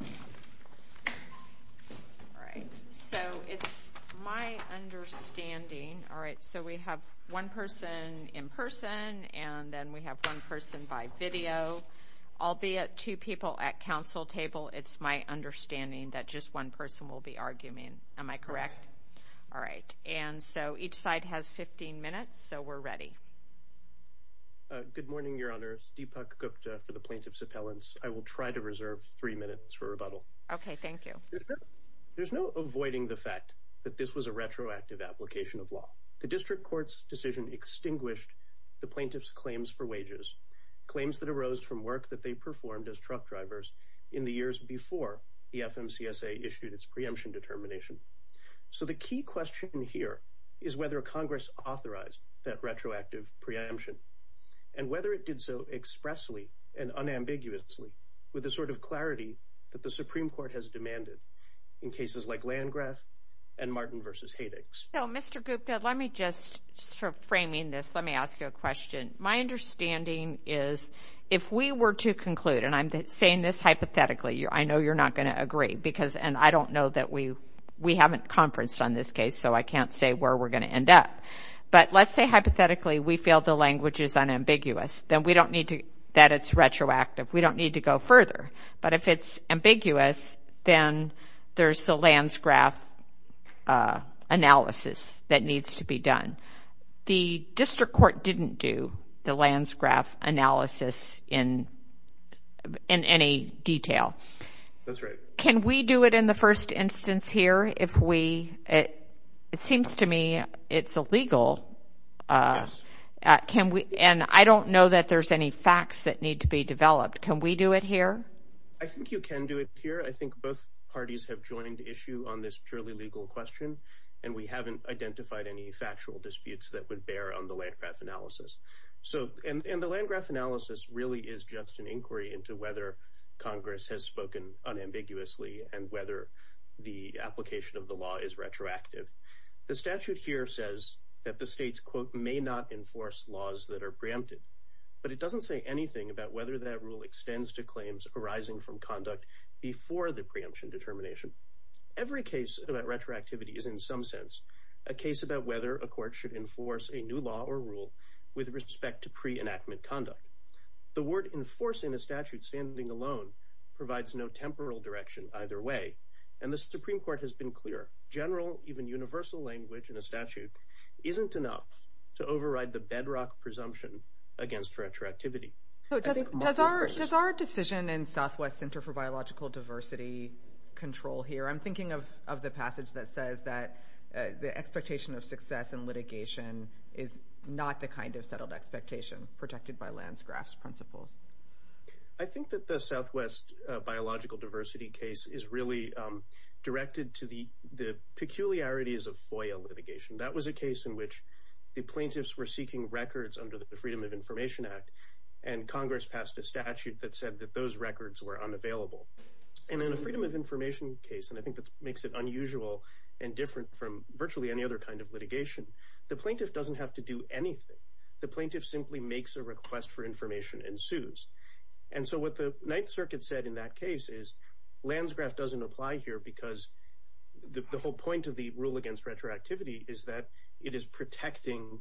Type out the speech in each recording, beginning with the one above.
All right, so it's my understanding, all right, so we have one person in person and then we have one person by video, albeit two people at council table, it's my understanding that just one person will be arguing. Am I correct? All right. And so each side has 15 minutes, so we're ready. Good morning, Your Honors. Deepak Gupta for the Plaintiff's Appellants. I will try to reserve three minutes for rebuttal. Okay, thank you. There's no avoiding the fact that this was a retroactive application of law. The district court's decision extinguished the plaintiff's claims for wages, claims that arose from work that they performed as truck drivers in the years before the FMCSA issued its preemption determination. So the key question here is whether Congress authorized that retroactive preemption, and whether it did so expressly and unambiguously with the sort of clarity that the Supreme Court has demanded in cases like Landgraf and Martin v. Haydix. So, Mr. Gupta, let me just, sort of framing this, let me ask you a question. My understanding is if we were to conclude, and I'm saying this hypothetically, I know you're not going to agree because, and I don't know that we haven't conferenced on this case, so I can't say where we're going to end up. But let's say hypothetically we feel the language is unambiguous, then we don't need to, that it's retroactive, we don't need to go further. But if it's ambiguous, then there's the Landgraf analysis that needs to be done. The district court didn't do the Landgraf analysis in any detail. That's right. Can we do it in the first instance here if we, it seems to me it's illegal. Yes. Can we, and I don't know that there's any facts that need to be developed. Can we do it here? I think you can do it here. I think both parties have joined the issue on this purely legal question, and we haven't identified any factual disputes that would bear on the Landgraf analysis. So, and the Landgraf analysis really is just an inquiry into whether Congress has spoken unambiguously and whether the application of the law is retroactive. The statute here says that the states, quote, may not enforce laws that are preempted, but it doesn't say anything about whether that rule extends to claims arising from conduct before the preemption determination. Every case about retroactivity is in some sense a case about whether a court should enforce a new law or rule with respect to pre-enactment conduct. The word enforce in a statute standing alone provides no temporal direction either way, and the Supreme Court has been clear. General, even universal language in a statute isn't enough to override the bedrock presumption against retroactivity. So does our decision in Southwest Center for Biological Diversity control here? I'm thinking of the passage that says that the expectation of success in litigation is not the kind of settled expectation protected by Landgraf's principles. I think that the Southwest biological diversity case is really directed to the peculiarities of FOIA litigation. That was a case in which the plaintiffs were seeking records under the Freedom of Information Act, and Congress passed a statute that said that those records were unavailable. And in a freedom of information case, and I think that makes it unusual and different from virtually any other kind of litigation, the plaintiff doesn't have to do anything. The plaintiff simply makes a request for information and sues. And so what the Ninth Circuit said in that case is Landgraf doesn't apply here because the whole point of the rule against retroactivity is that it is protecting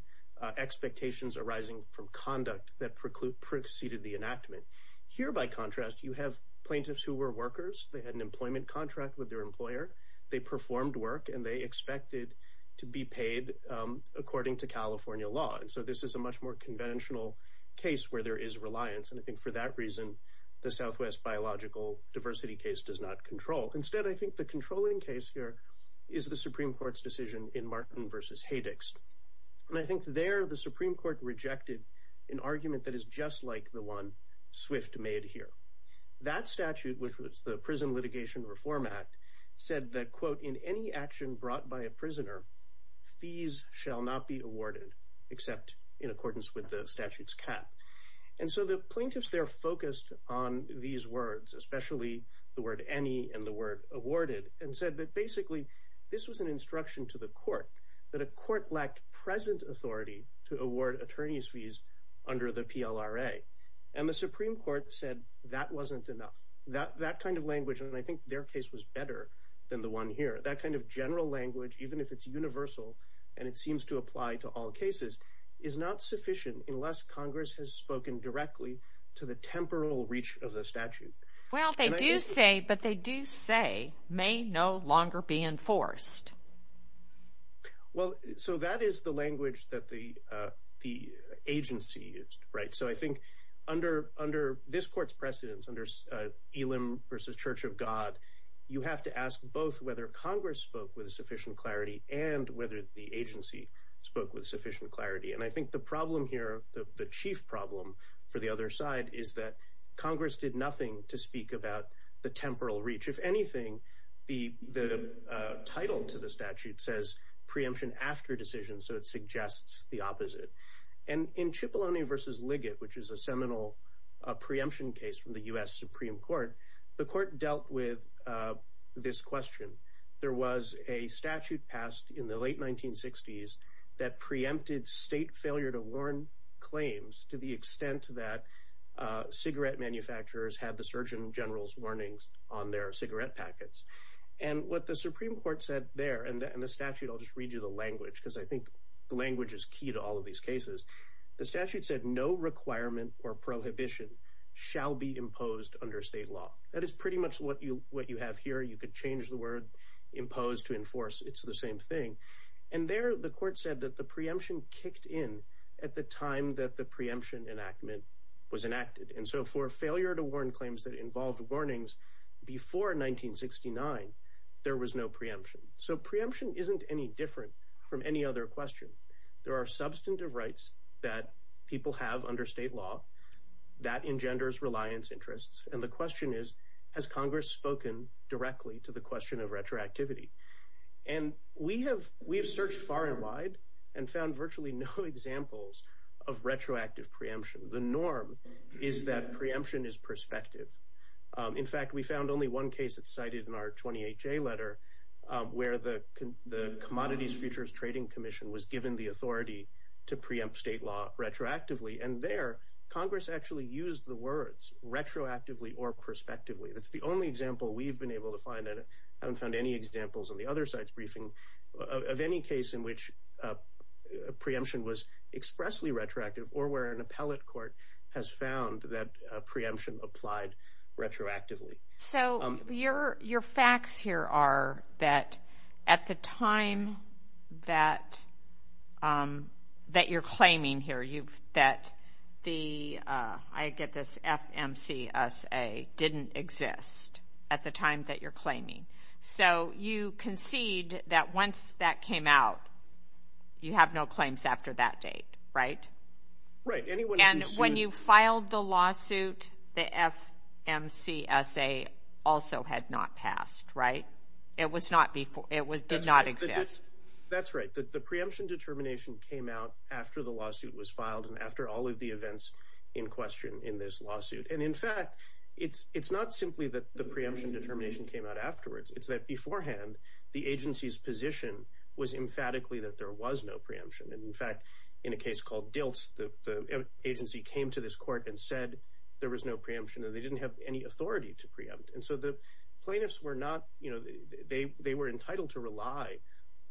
expectations arising from conduct that preceded the enactment. Here, by contrast, you have plaintiffs who were workers, they had an employment contract with their employer, they performed work, and they expected to be paid according to California law. And so this is a much more conventional case where there is reliance. And I think for that reason, the Southwest biological diversity case does not control. Instead, I think the controlling case here is the Supreme Court's decision in Martin versus Haydix. And I think there the Supreme Court rejected an argument that is just like the one Swift made here. That statute, which was the Prison Litigation Reform Act, said that, quote, in any action brought by a prisoner, fees shall not be awarded except in accordance with the statute's cap. And so the plaintiffs there focused on these words, especially the word any and the word awarded, and said that basically this was an instruction to the court that a court lacked present authority to award attorneys fees under the PLRA. And the Supreme Court said that wasn't enough. That kind of language, and I think their case was better than the one here, that kind of general language, even if it's universal, and it seems to apply to all cases, is not sufficient unless Congress has spoken directly to the temporal reach of the statute. Well, they do say, but they do say may no longer be enforced. Well, so that is the language that the agency used, right? So I think under this court's precedence, under Elim versus Church of God, you have to ask both whether Congress spoke with sufficient clarity and whether the agency spoke with sufficient clarity. And I think the problem here, the chief problem for the other side, is that Congress did nothing to speak about the temporal reach. If anything, the title to the statute says preemption after decision, so it suggests the opposite. And in Cipollone versus Liggett, which is a seminal preemption case from the US Supreme Court, the court dealt with this question. There was a statute passed in the late 1960s that preempted state failure to warn claims to the extent that cigarette manufacturers had the Surgeon General's warnings on their cigarette packets. And what the Supreme Court said there, and the statute, I'll just read you the language, because I think the language is key to all of these cases. The statute said no requirement or prohibition shall be imposed under state law. That is pretty much what you have here. You could change the word imposed to enforce, it's the same thing. And there, the court said that the preemption kicked in at the time that the preemption enactment was enacteded. And so for failure to warn claims that involved warnings before 1969, there was no preemption. So preemption isn't any different from any other question. There are substantive rights that people have under state law that engenders reliance interests. And the question is, has Congress spoken directly to the question of retroactivity? And we have, we have searched far and wide and found virtually no examples of retroactive preemption. The norm is that preemption is prospective. In fact, we found only one case that's cited in our 28-J letter, where the Commodities Futures Trading Commission was given the authority to preempt state law retroactively. And there, Congress actually used the words retroactively or prospectively. That's the only example we've been able to find, haven't found any examples on the other side's briefing of any case in which preemption was expressly retroactive or where an appellate court has found that preemption applied retroactively. So your facts here are that at the time that you're claiming here, that the, I get this FMCSA didn't exist at the time that you're claiming. So you concede that once that came out, you have no claims after that date, right? Right. And when you filed the lawsuit, the FMCSA also had not passed, right? It was not before, it was, did not exist. That's right. The preemption determination came out after the lawsuit was filed and after all of the events in question in this lawsuit. And in fact, it's not simply that the preemption determination came out afterwards. It's that beforehand, the agency's position was emphatically that there was no preemption. And in fact, in a case called Diltz, the agency came to this court and said there was no preemption and they didn't have any authority to preempt. And so the plaintiffs were not, they were entitled to rely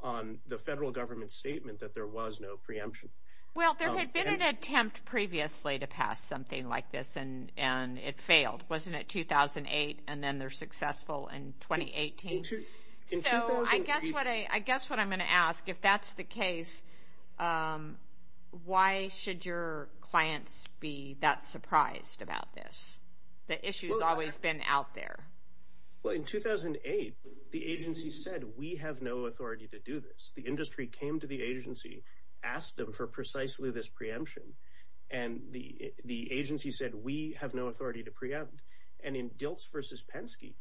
on the federal government statement that there was no preemption. Well, there had been an attempt previously to pass something like this and it failed, wasn't it? 2008 and then they're successful in 2018. So I guess what I'm going to ask, if that's the case, why should your clients be that surprised about this? The issue has always been out there. Well, in 2008, the agency said we have no authority to preempt. And in Diltz versus Penske,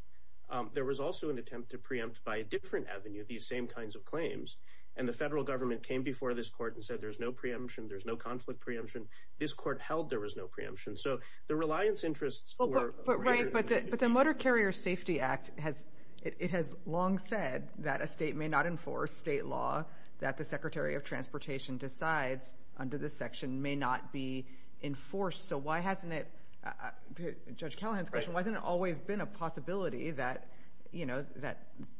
there was also an attempt to preempt by a different avenue, these same kinds of claims. And the federal government came before this court and said there's no preemption, there's no conflict preemption. This court held there was no preemption. So the reliance interests were- But the Motor Carrier Safety Act, it has long said that a state may not enforce state law, that the Secretary of Transportation decides under this section may not be enforced. So why hasn't it, to Judge Callahan's question, why hasn't it always been a possibility that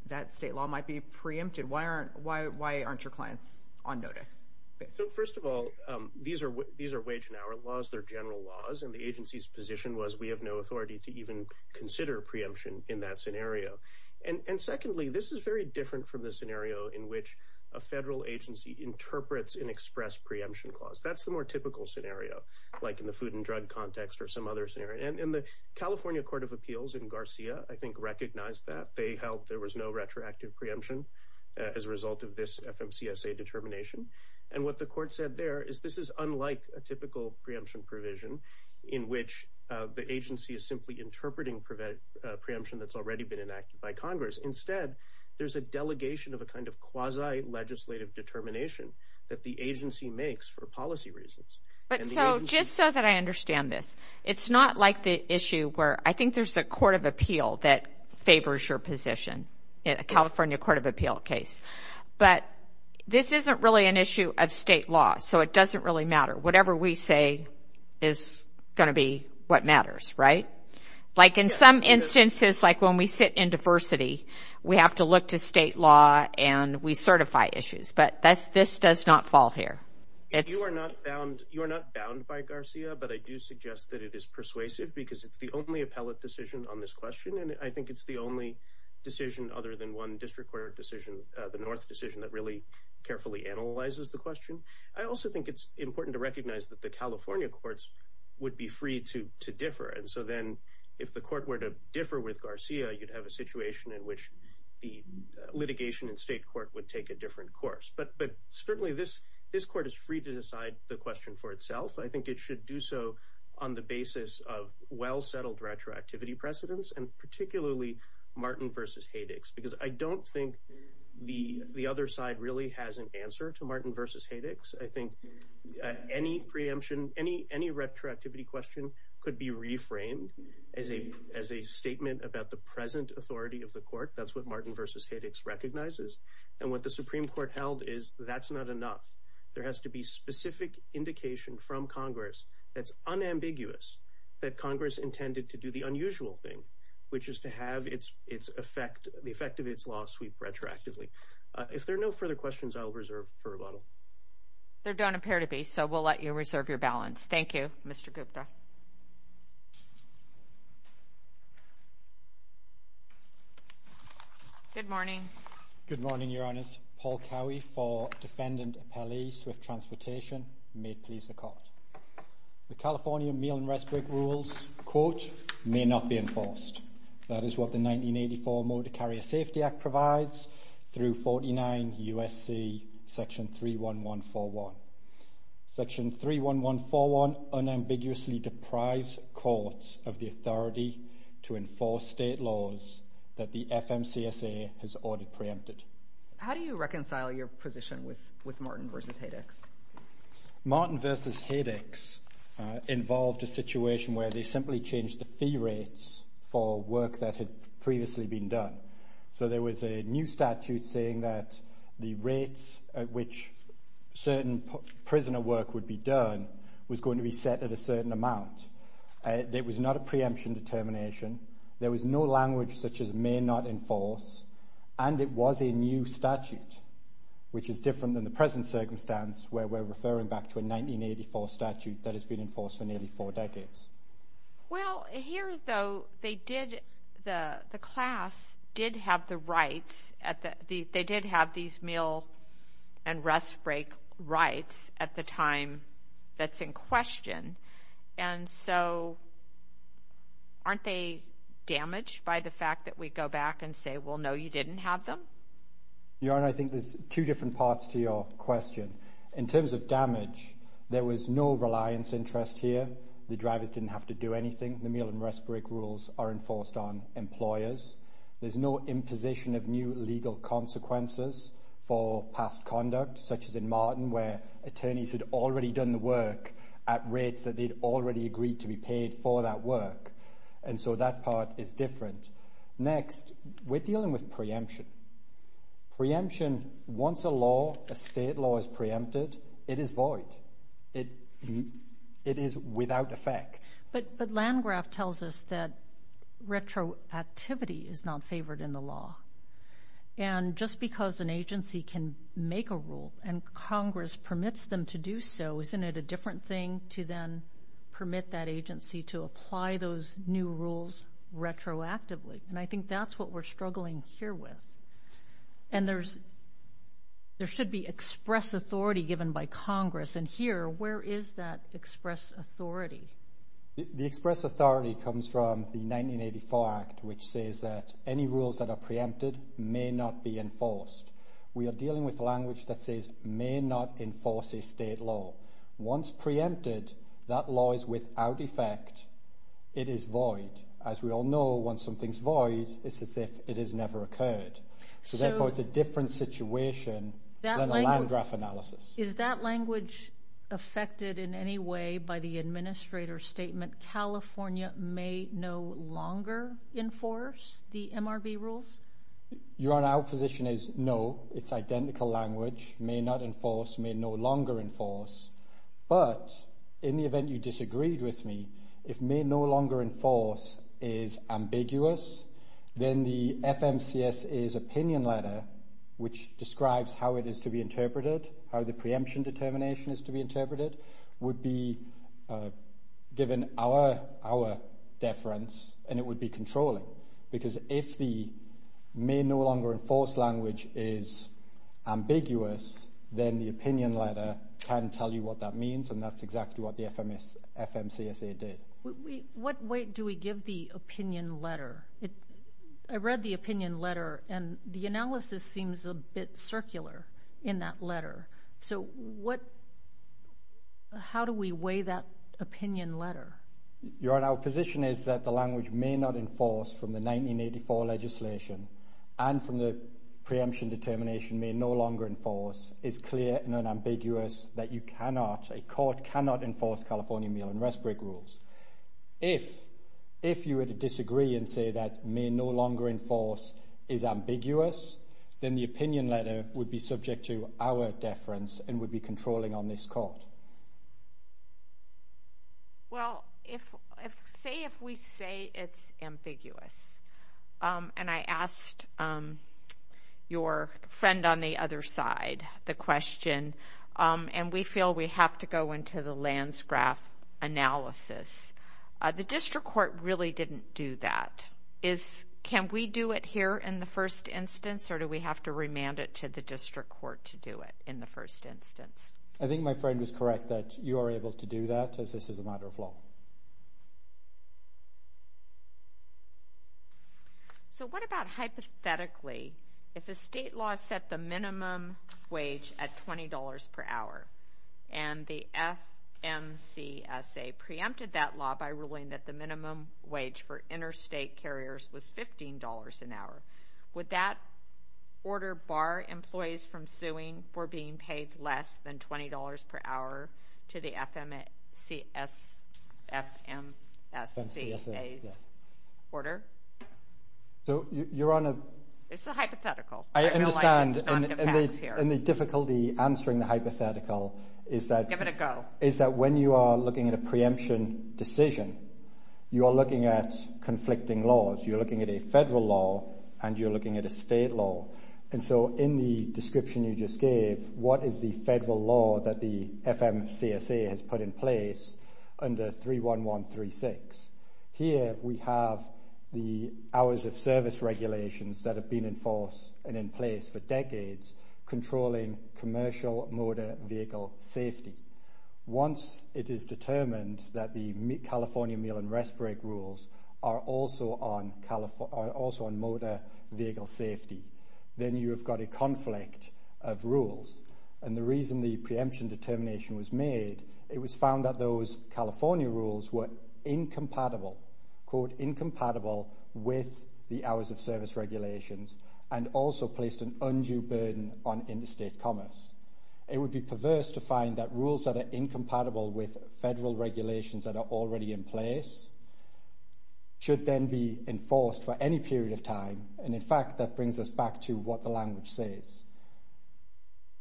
that state law might be preempted? Why aren't your clients on notice? So first of all, these are wage and hour laws, they're general laws. And the agency's position was we have no authority to even consider preemption in that scenario. And secondly, this is very different from the scenario in which a federal agency interprets an express preemption clause. That's the more typical scenario, like in the food and drug context or some other scenario. And the California Court of Appeals in Garcia, I think, recognized that. They held there was no retroactive preemption as a result of this FMCSA determination. And what the court said there is this is unlike a typical preemption provision in which the agency is simply interpreting preemption that's already been enacted by Congress. Instead, there's a delegation of a kind of quasi-legislative determination that the agency makes for policy reasons. But so just so that I understand this, it's not like the issue where I think there's a court of appeal that favors your position, in a California Court of Appeal case. But this isn't really an issue of state law, so it doesn't really matter. Whatever we say is going to be what matters, right? Like in some instances, like when we sit in diversity, we have to look to state law and we certify issues. But this does not fall here. You are not bound by Garcia, but I do suggest that it is persuasive because it's the only appellate decision on this question. And I think it's the only decision other than one district court decision, the North decision, that really carefully analyzes the important to recognize that the California courts would be free to differ. And so then, if the court were to differ with Garcia, you'd have a situation in which the litigation in state court would take a different course. But certainly, this court is free to decide the question for itself. I think it should do so on the basis of well-settled retroactivity precedents, and particularly Martin v. Haydix. Because I don't think the other side really has an answer to any preemption. Any retroactivity question could be reframed as a statement about the present authority of the court. That's what Martin v. Haydix recognizes. And what the Supreme Court held is that's not enough. There has to be specific indication from Congress that's unambiguous, that Congress intended to do the unusual thing, which is to have the effect of its law sweep retroactively. If there are no further questions, I'll reserve for rebuttal. There don't appear to be, so we'll let you reserve your balance. Thank you, Mr. Gupta. Good morning. Good morning, Your Honors. Paul Cowie for Defendant Appellee, Swift Transportation. May it please the Court. The California meal and rest break rules, quote, may not be enforced. That is what the 1984 Motor Carrier Safety Act provides through 49 U.S.C. Section 31141. Section 31141 unambiguously deprives courts of the authority to enforce state laws that the FMCSA has already preempted. How do you reconcile your position with Martin v. Haydix? Martin v. Haydix involved a situation where they simply changed the fee rates for work that had previously been done. So there was a new statute saying that the rates at which certain prisoner work would be done was going to be set at a certain amount. It was not a preemption determination. There was no language such as may not enforce. And it was a new statute, which is different than the present circumstance where we're referring back to a 1984 statute that has been enforced for nearly four decades. Well, here, though, they did, the class did have the rights at the, they did have these meal and rest break rights at the time that's in question. And so aren't they damaged by the fact that we go back and say, well, no, you didn't have them? Your Honor, I think there's two different parts to your question. In terms of damage, there was no reliance interest here. The drivers didn't have to do anything. The meal and rest break rules are enforced on employers. There's no imposition of new legal consequences for past conduct, such as in Martin, where attorneys had already done the work at rates that they'd already agreed to be paid for that work. And so that part is different. Next, we're dealing with preemption. Preemption, once a law, a state law is preempted, it is void. It is without effect. But Landgraf tells us that retroactivity is not favored in the law. And just because an agency can make a rule and Congress permits them to do so, isn't it a different thing to then permit that agency to apply those new rules retroactively? And I think that's what we're struggling here with. And there should be express authority given by Congress. And here, where is that express authority? The express authority comes from the 1984 Act, which says that any rules that are preempted may not be enforced. We are dealing with language that says may not enforce a state law. Once preempted, that law is without effect. It is void. As we all know, once something's void, it's as if it has never occurred. So therefore, it's a different situation than a Landgraf analysis. Is that language affected in any way by the administrator's statement, California may no longer enforce the MRB rules? Your Honor, our position is no. It's identical language, may not enforce, may no longer enforce. But in the event you disagreed with me, if may no longer enforce is ambiguous, then the FMCSA's opinion letter, which describes how it is to be interpreted, how the preemption determination is to be interpreted, would be given our deference and it would be controlling. Because if the may no longer enforce language is ambiguous, then the opinion letter can tell you what that means, and that's exactly what the FMCSA did. What weight do we give the opinion letter? I read the opinion letter, and the analysis seems a bit circular in that letter. So how do we weigh that opinion letter? Your Honor, our position is that the language may not enforce from the 1984 legislation, and from the preemption determination may no longer enforce, is clear and unambiguous that you cannot, a court cannot enforce California meal and rest break rules. If you were to disagree and say that may no longer enforce is ambiguous, then the opinion letter would be subject to our deference and would be controlling on this court. Well, say if we say it's ambiguous, and I asked your friend on the other side the question, and we feel we have to go into the lands graph analysis. The district court really didn't do that. Can we do it here in the first instance, or do we have to remand it to the district court? I think my friend was correct that you are able to do that, as this is a matter of law. So what about hypothetically, if the state law set the minimum wage at $20 per hour, and the FMCSA preempted that law by ruling that the minimum wage for interstate carriers was $15 an hour. Would that order bar employees from suing for being paid less than $20 per hour to the FMCSA's order? It's a hypothetical. I understand, and the difficulty answering the hypothetical is that when you are looking at a preemption decision, you are looking at conflicting laws. You're looking at a federal law, and you're looking at a state law. And so in the description you just gave, what is the federal law that the FMCSA has put in place under 31136? Here we have the hours of service regulations that have been in force and in place for decades, controlling commercial motor vehicle safety. Once it is established that California meal and rest break rules are also on motor vehicle safety, then you have got a conflict of rules. And the reason the preemption determination was made, it was found that those California rules were incompatible with the hours of service regulations, and also placed an undue burden on interstate commerce. It would be perverse to find that rules that are incompatible with federal regulations that are already in place should then be enforced for any period of time. And in fact, that brings us back to what the language says.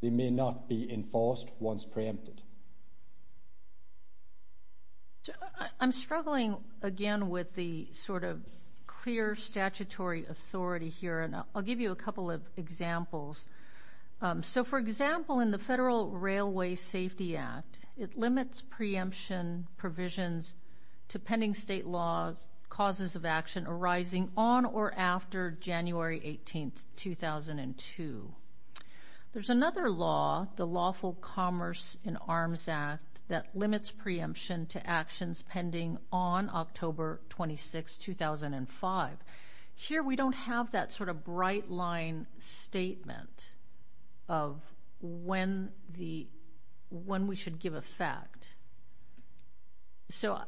They may not be enforced once preempted. I'm struggling again with the sort of clear statutory authority here, and I'll give you a couple of examples. So for example, in the Federal Railway Safety Act, it limits preemption provisions to pending state laws, causes of action arising on or after January 18, 2002. There's another law, the Lawful Commerce in Arms Act, that limits preemption to actions pending on October 26, 2005. Here we don't have that sort of bright line statement of when we should give a fact. So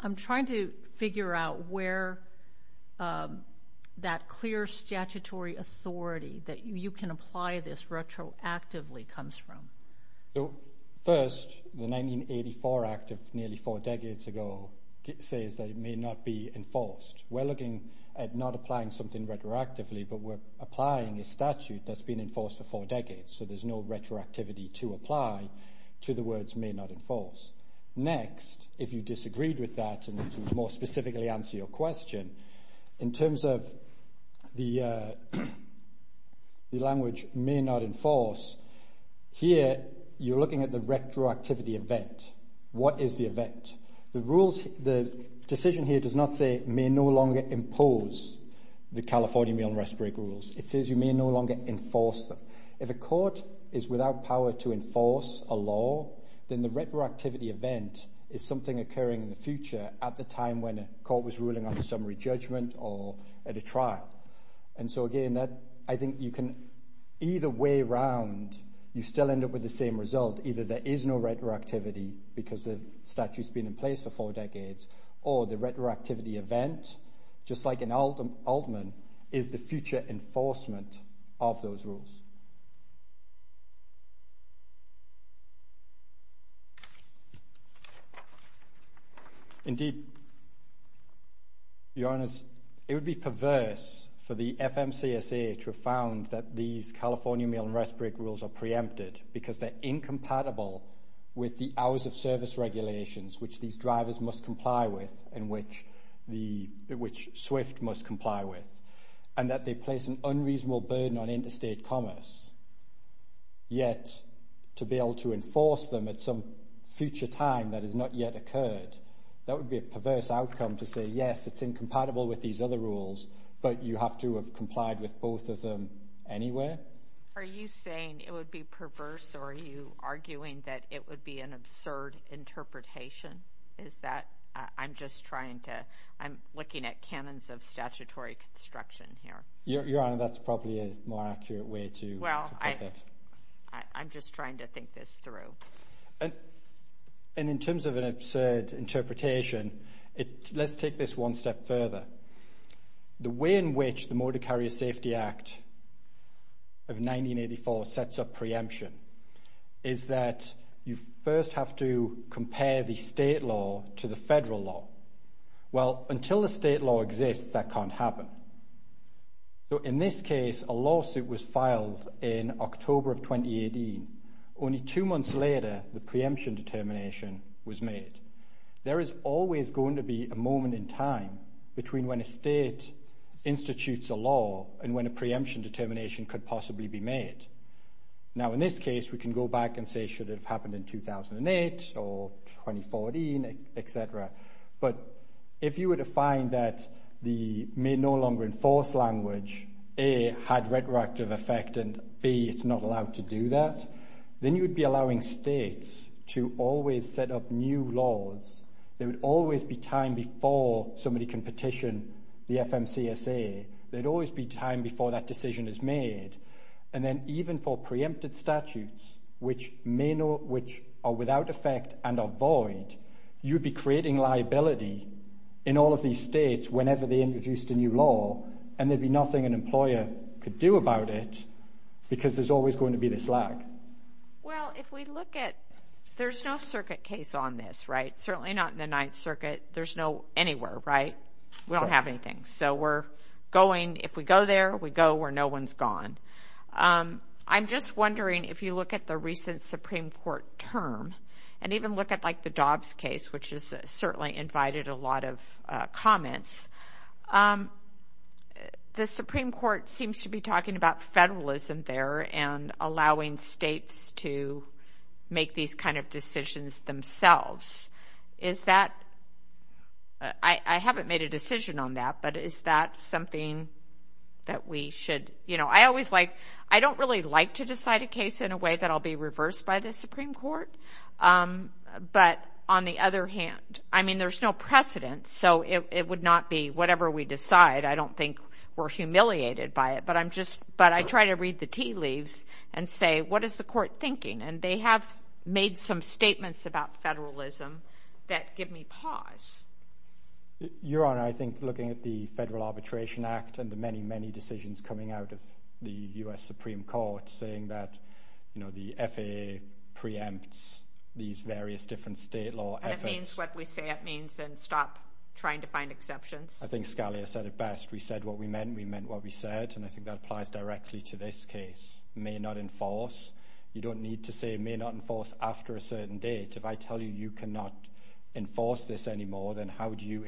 I'm trying to figure out where that clear statutory authority that you can apply this says that it may not be enforced. We're looking at not applying something retroactively, but we're applying a statute that's been enforced for four decades, so there's no retroactivity to apply to the words may not enforce. Next, if you disagreed with that, and to more specifically answer your question, in terms of the language may not enforce, here you're looking at the decision here does not say may no longer impose the California meal and rest break rules. It says you may no longer enforce them. If a court is without power to enforce a law, then the retroactivity event is something occurring in the future at the time when a court was ruling on a summary judgment or at a trial. And so again, I think you can either way around, you still end up with the same result. Either there is no retroactivity because the statute's been in place for four decades, or the retroactivity event, just like in Altman, is the future enforcement of those rules. Indeed, Your Honor, it would be perverse for the FMCSA to have found that these California meal and rest break rules are preempted because they're incompatible with the service regulations which these drivers must comply with, and which SWIFT must comply with, and that they place an unreasonable burden on interstate commerce, yet to be able to enforce them at some future time that has not yet occurred, that would be a perverse outcome to say, yes, it's incompatible with these other rules, but you have to have complied with both of them anyway. Are you saying it would be perverse, or are you arguing that it would be an absurd interpretation? Is that, I'm just trying to, I'm looking at canons of statutory construction here. Your Honor, that's probably a more accurate way to put it. Well, I'm just trying to think this through. And in terms of an absurd interpretation, let's take this one step further. The way in which the Motor Carrier Safety Act of 1984 sets up preemption is that you first have to compare the state law to the federal law. Well, until the state law exists, that can't happen. So in this case, a lawsuit was filed in October of 2018. Only two months later, the preemption determination was made. There is always going to be a moment in time between when a state institutes a law and when a preemption determination could possibly be made. Now, in this case, we can go back and say, should it have happened in 2008 or 2014, et cetera. But if you were to find that the may no longer enforce language, A, had retroactive effect, and B, it's not allowed to do that, then you would be allowing states to always set up new laws. There would always be time before somebody can petition the FMCSA. There'd always be time before that decision is made. And then even for preempted statutes, which are without effect and are void, you'd be creating liability in all of these states whenever they introduced a new law. And there'd be nothing an employer could do about it, because there's always going to be this lag. Well, if we look at, there's no circuit case on this, right? Certainly not in the Ninth Circuit. There's no anywhere, right? We don't have anything. So we're going, if we go there, we go where no one's gone. I'm just wondering if you look at the recent Supreme Court term, and even look at like the Dobbs case, which has certainly invited a lot of comments, the Supreme Court seems to be talking about federalism there and allowing states to make these kind of decisions themselves. Is that, I haven't made a decision on that, but is that something that we should, you know, I always like, I don't really like to decide a case in a Supreme Court, but on the other hand, I mean, there's no precedent. So it would not be whatever we decide. I don't think we're humiliated by it, but I'm just, but I try to read the tea leaves and say, what is the court thinking? And they have made some statements about federalism that give me pause. Your Honor, I think looking at the Federal Arbitration Act and the many, decisions coming out of the U.S. Supreme Court saying that, you know, the FAA preempts these various different state law efforts. And if it means what we say it means, then stop trying to find exceptions. I think Scalia said it best. We said what we meant, we meant what we said, and I think that applies directly to this case. It may not enforce. You don't need to say it may not enforce after a certain date. If I tell you, you cannot enforce this anymore, then how do you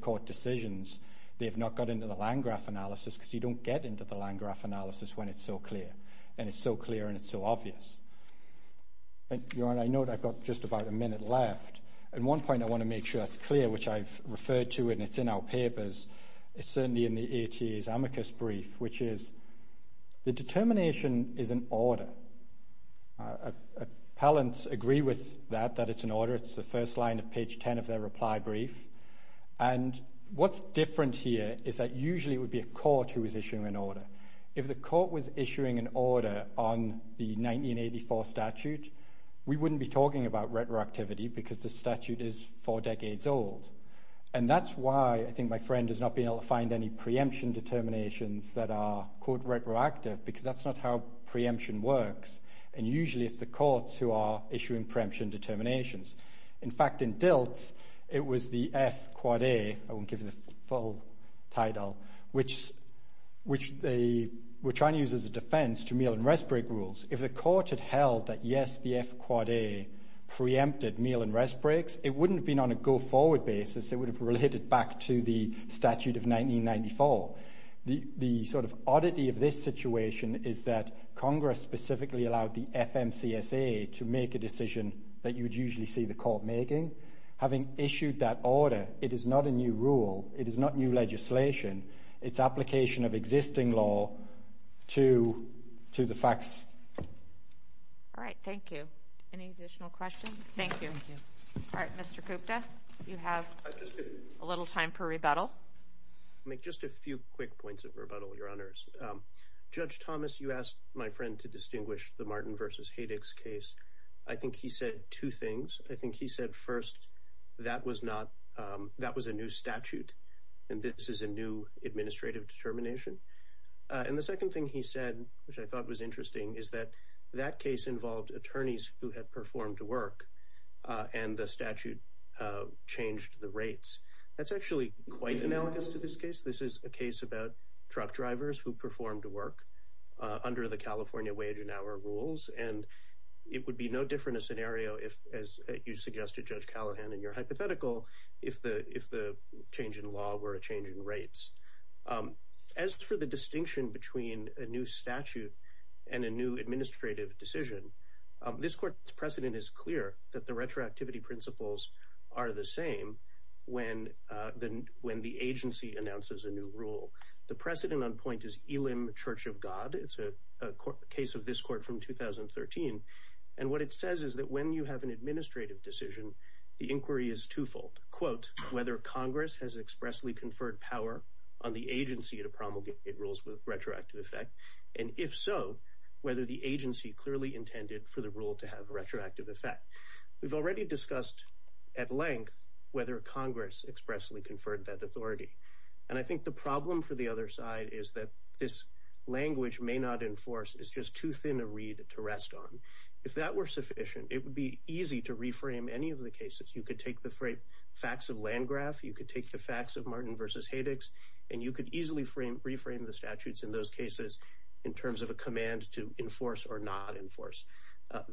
court decisions? They've not got into the land graph analysis because you don't get into the land graph analysis when it's so clear and it's so clear and it's so obvious. Your Honor, I know that I've got just about a minute left. At one point, I want to make sure that's clear, which I've referred to and it's in our papers. It's certainly in the ATA's amicus brief, which is the determination is an order. Appellants agree with that, that it's an order. It's the first line of page 10 of their reply brief. And what's different here is that usually it would be a court who is issuing an order. If the court was issuing an order on the 1984 statute, we wouldn't be talking about retroactivity because the statute is four decades old. And that's why I think my friend has not been able to find any preemption determinations that are quote retroactive because that's not how preemption works. And usually it's the courts who are issuing preemption determinations. In fact, in DILT, it was the F-A, I won't give you the full title, which they were trying to use as a defense to meal and rest break rules. If the court had held that yes, the F-A preempted meal and rest breaks, it wouldn't have been on a go forward basis. It would have related back to the statute of 1994. The sort of oddity of this to make a decision that you would usually see the court making. Having issued that order, it is not a new rule. It is not new legislation. It's application of existing law to the facts. All right. Thank you. Any additional questions? Thank you. All right, Mr. Kupta, you have a little time for rebuttal. I'll make just a few quick points of rebuttal, Your Honors. Judge Thomas, you asked my friend to distinguish the Martin v. Haydick's case. I think he said two things. I think he said first, that was a new statute and this is a new administrative determination. And the second thing he said, which I thought was interesting, is that that case involved attorneys who had performed to work and the statute changed the rates. That's actually quite analogous to this case. This is a case about truck drivers who performed to work under the California wage and hour rules. And it would be no different a scenario if, as you suggested, Judge Callahan, in your hypothetical, if the change in law were a change in rates. As for the distinction between a new statute and a new administrative decision, this court's clear that the retroactivity principles are the same when the agency announces a new rule. The precedent on point is Elim Church of God. It's a case of this court from 2013. And what it says is that when you have an administrative decision, the inquiry is twofold. Whether Congress has expressly conferred power on the agency to promulgate rules with retroactive effect, and if so, whether the agency clearly intended for the rule to have a retroactive effect. We've already discussed at length whether Congress expressly conferred that authority. And I think the problem for the other side is that this language may not enforce, it's just too thin a reed to rest on. If that were sufficient, it would be easy to reframe any of the cases. You could take the facts of Landgraf, you could take the facts of Martin versus Haydix, and you could easily reframe the statutes in those cases in terms of a command to enforce or not enforce.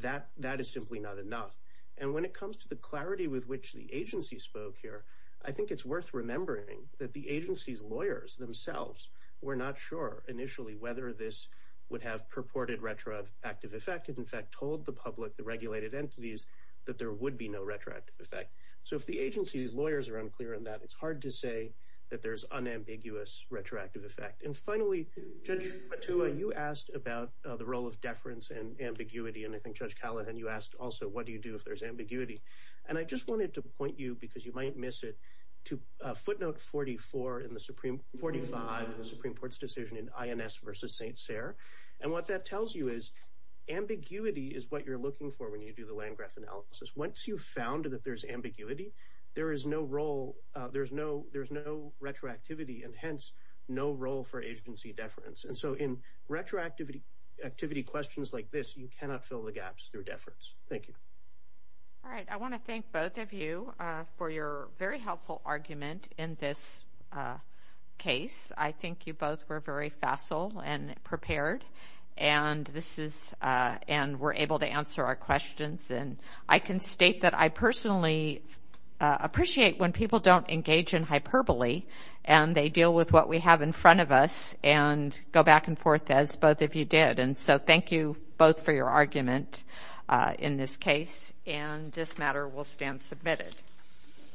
That is simply not enough. And when it comes to the clarity with which the agency spoke here, I think it's worth remembering that the agency's lawyers themselves were not sure initially whether this would have purported retroactive effect. It in fact told the public, the regulated entities, that there would be no retroactive effect. So if the agency's lawyers are unclear on that, it's hard to say that there's unambiguous retroactive effect. And finally, Judge Matua, you asked about the role of deference and ambiguity, and I think Judge Callahan, you asked also, what do you do if there's ambiguity? And I just wanted to point you, because you might miss it, to footnote 44 in the Supreme, 45 in the Supreme Court's decision in INS versus St. Cyr, and what that tells you is ambiguity is what you're looking for when you do the Landgraf analysis. Once you've found that there's ambiguity, there is no role, there's no retroactivity, and hence no role for agency deference. And so in retroactivity questions like this, you cannot fill the gaps through deference. Thank you. All right, I want to thank both of you for your very helpful argument in this case. I think you both were very facile and prepared, and we're able to answer our questions. And I can state that I personally appreciate when people don't engage in hyperbole, and they deal with what we have in front of us, and go back and forth as both of you did. And so thank you both for your argument in this case, and this matter will stand submitted.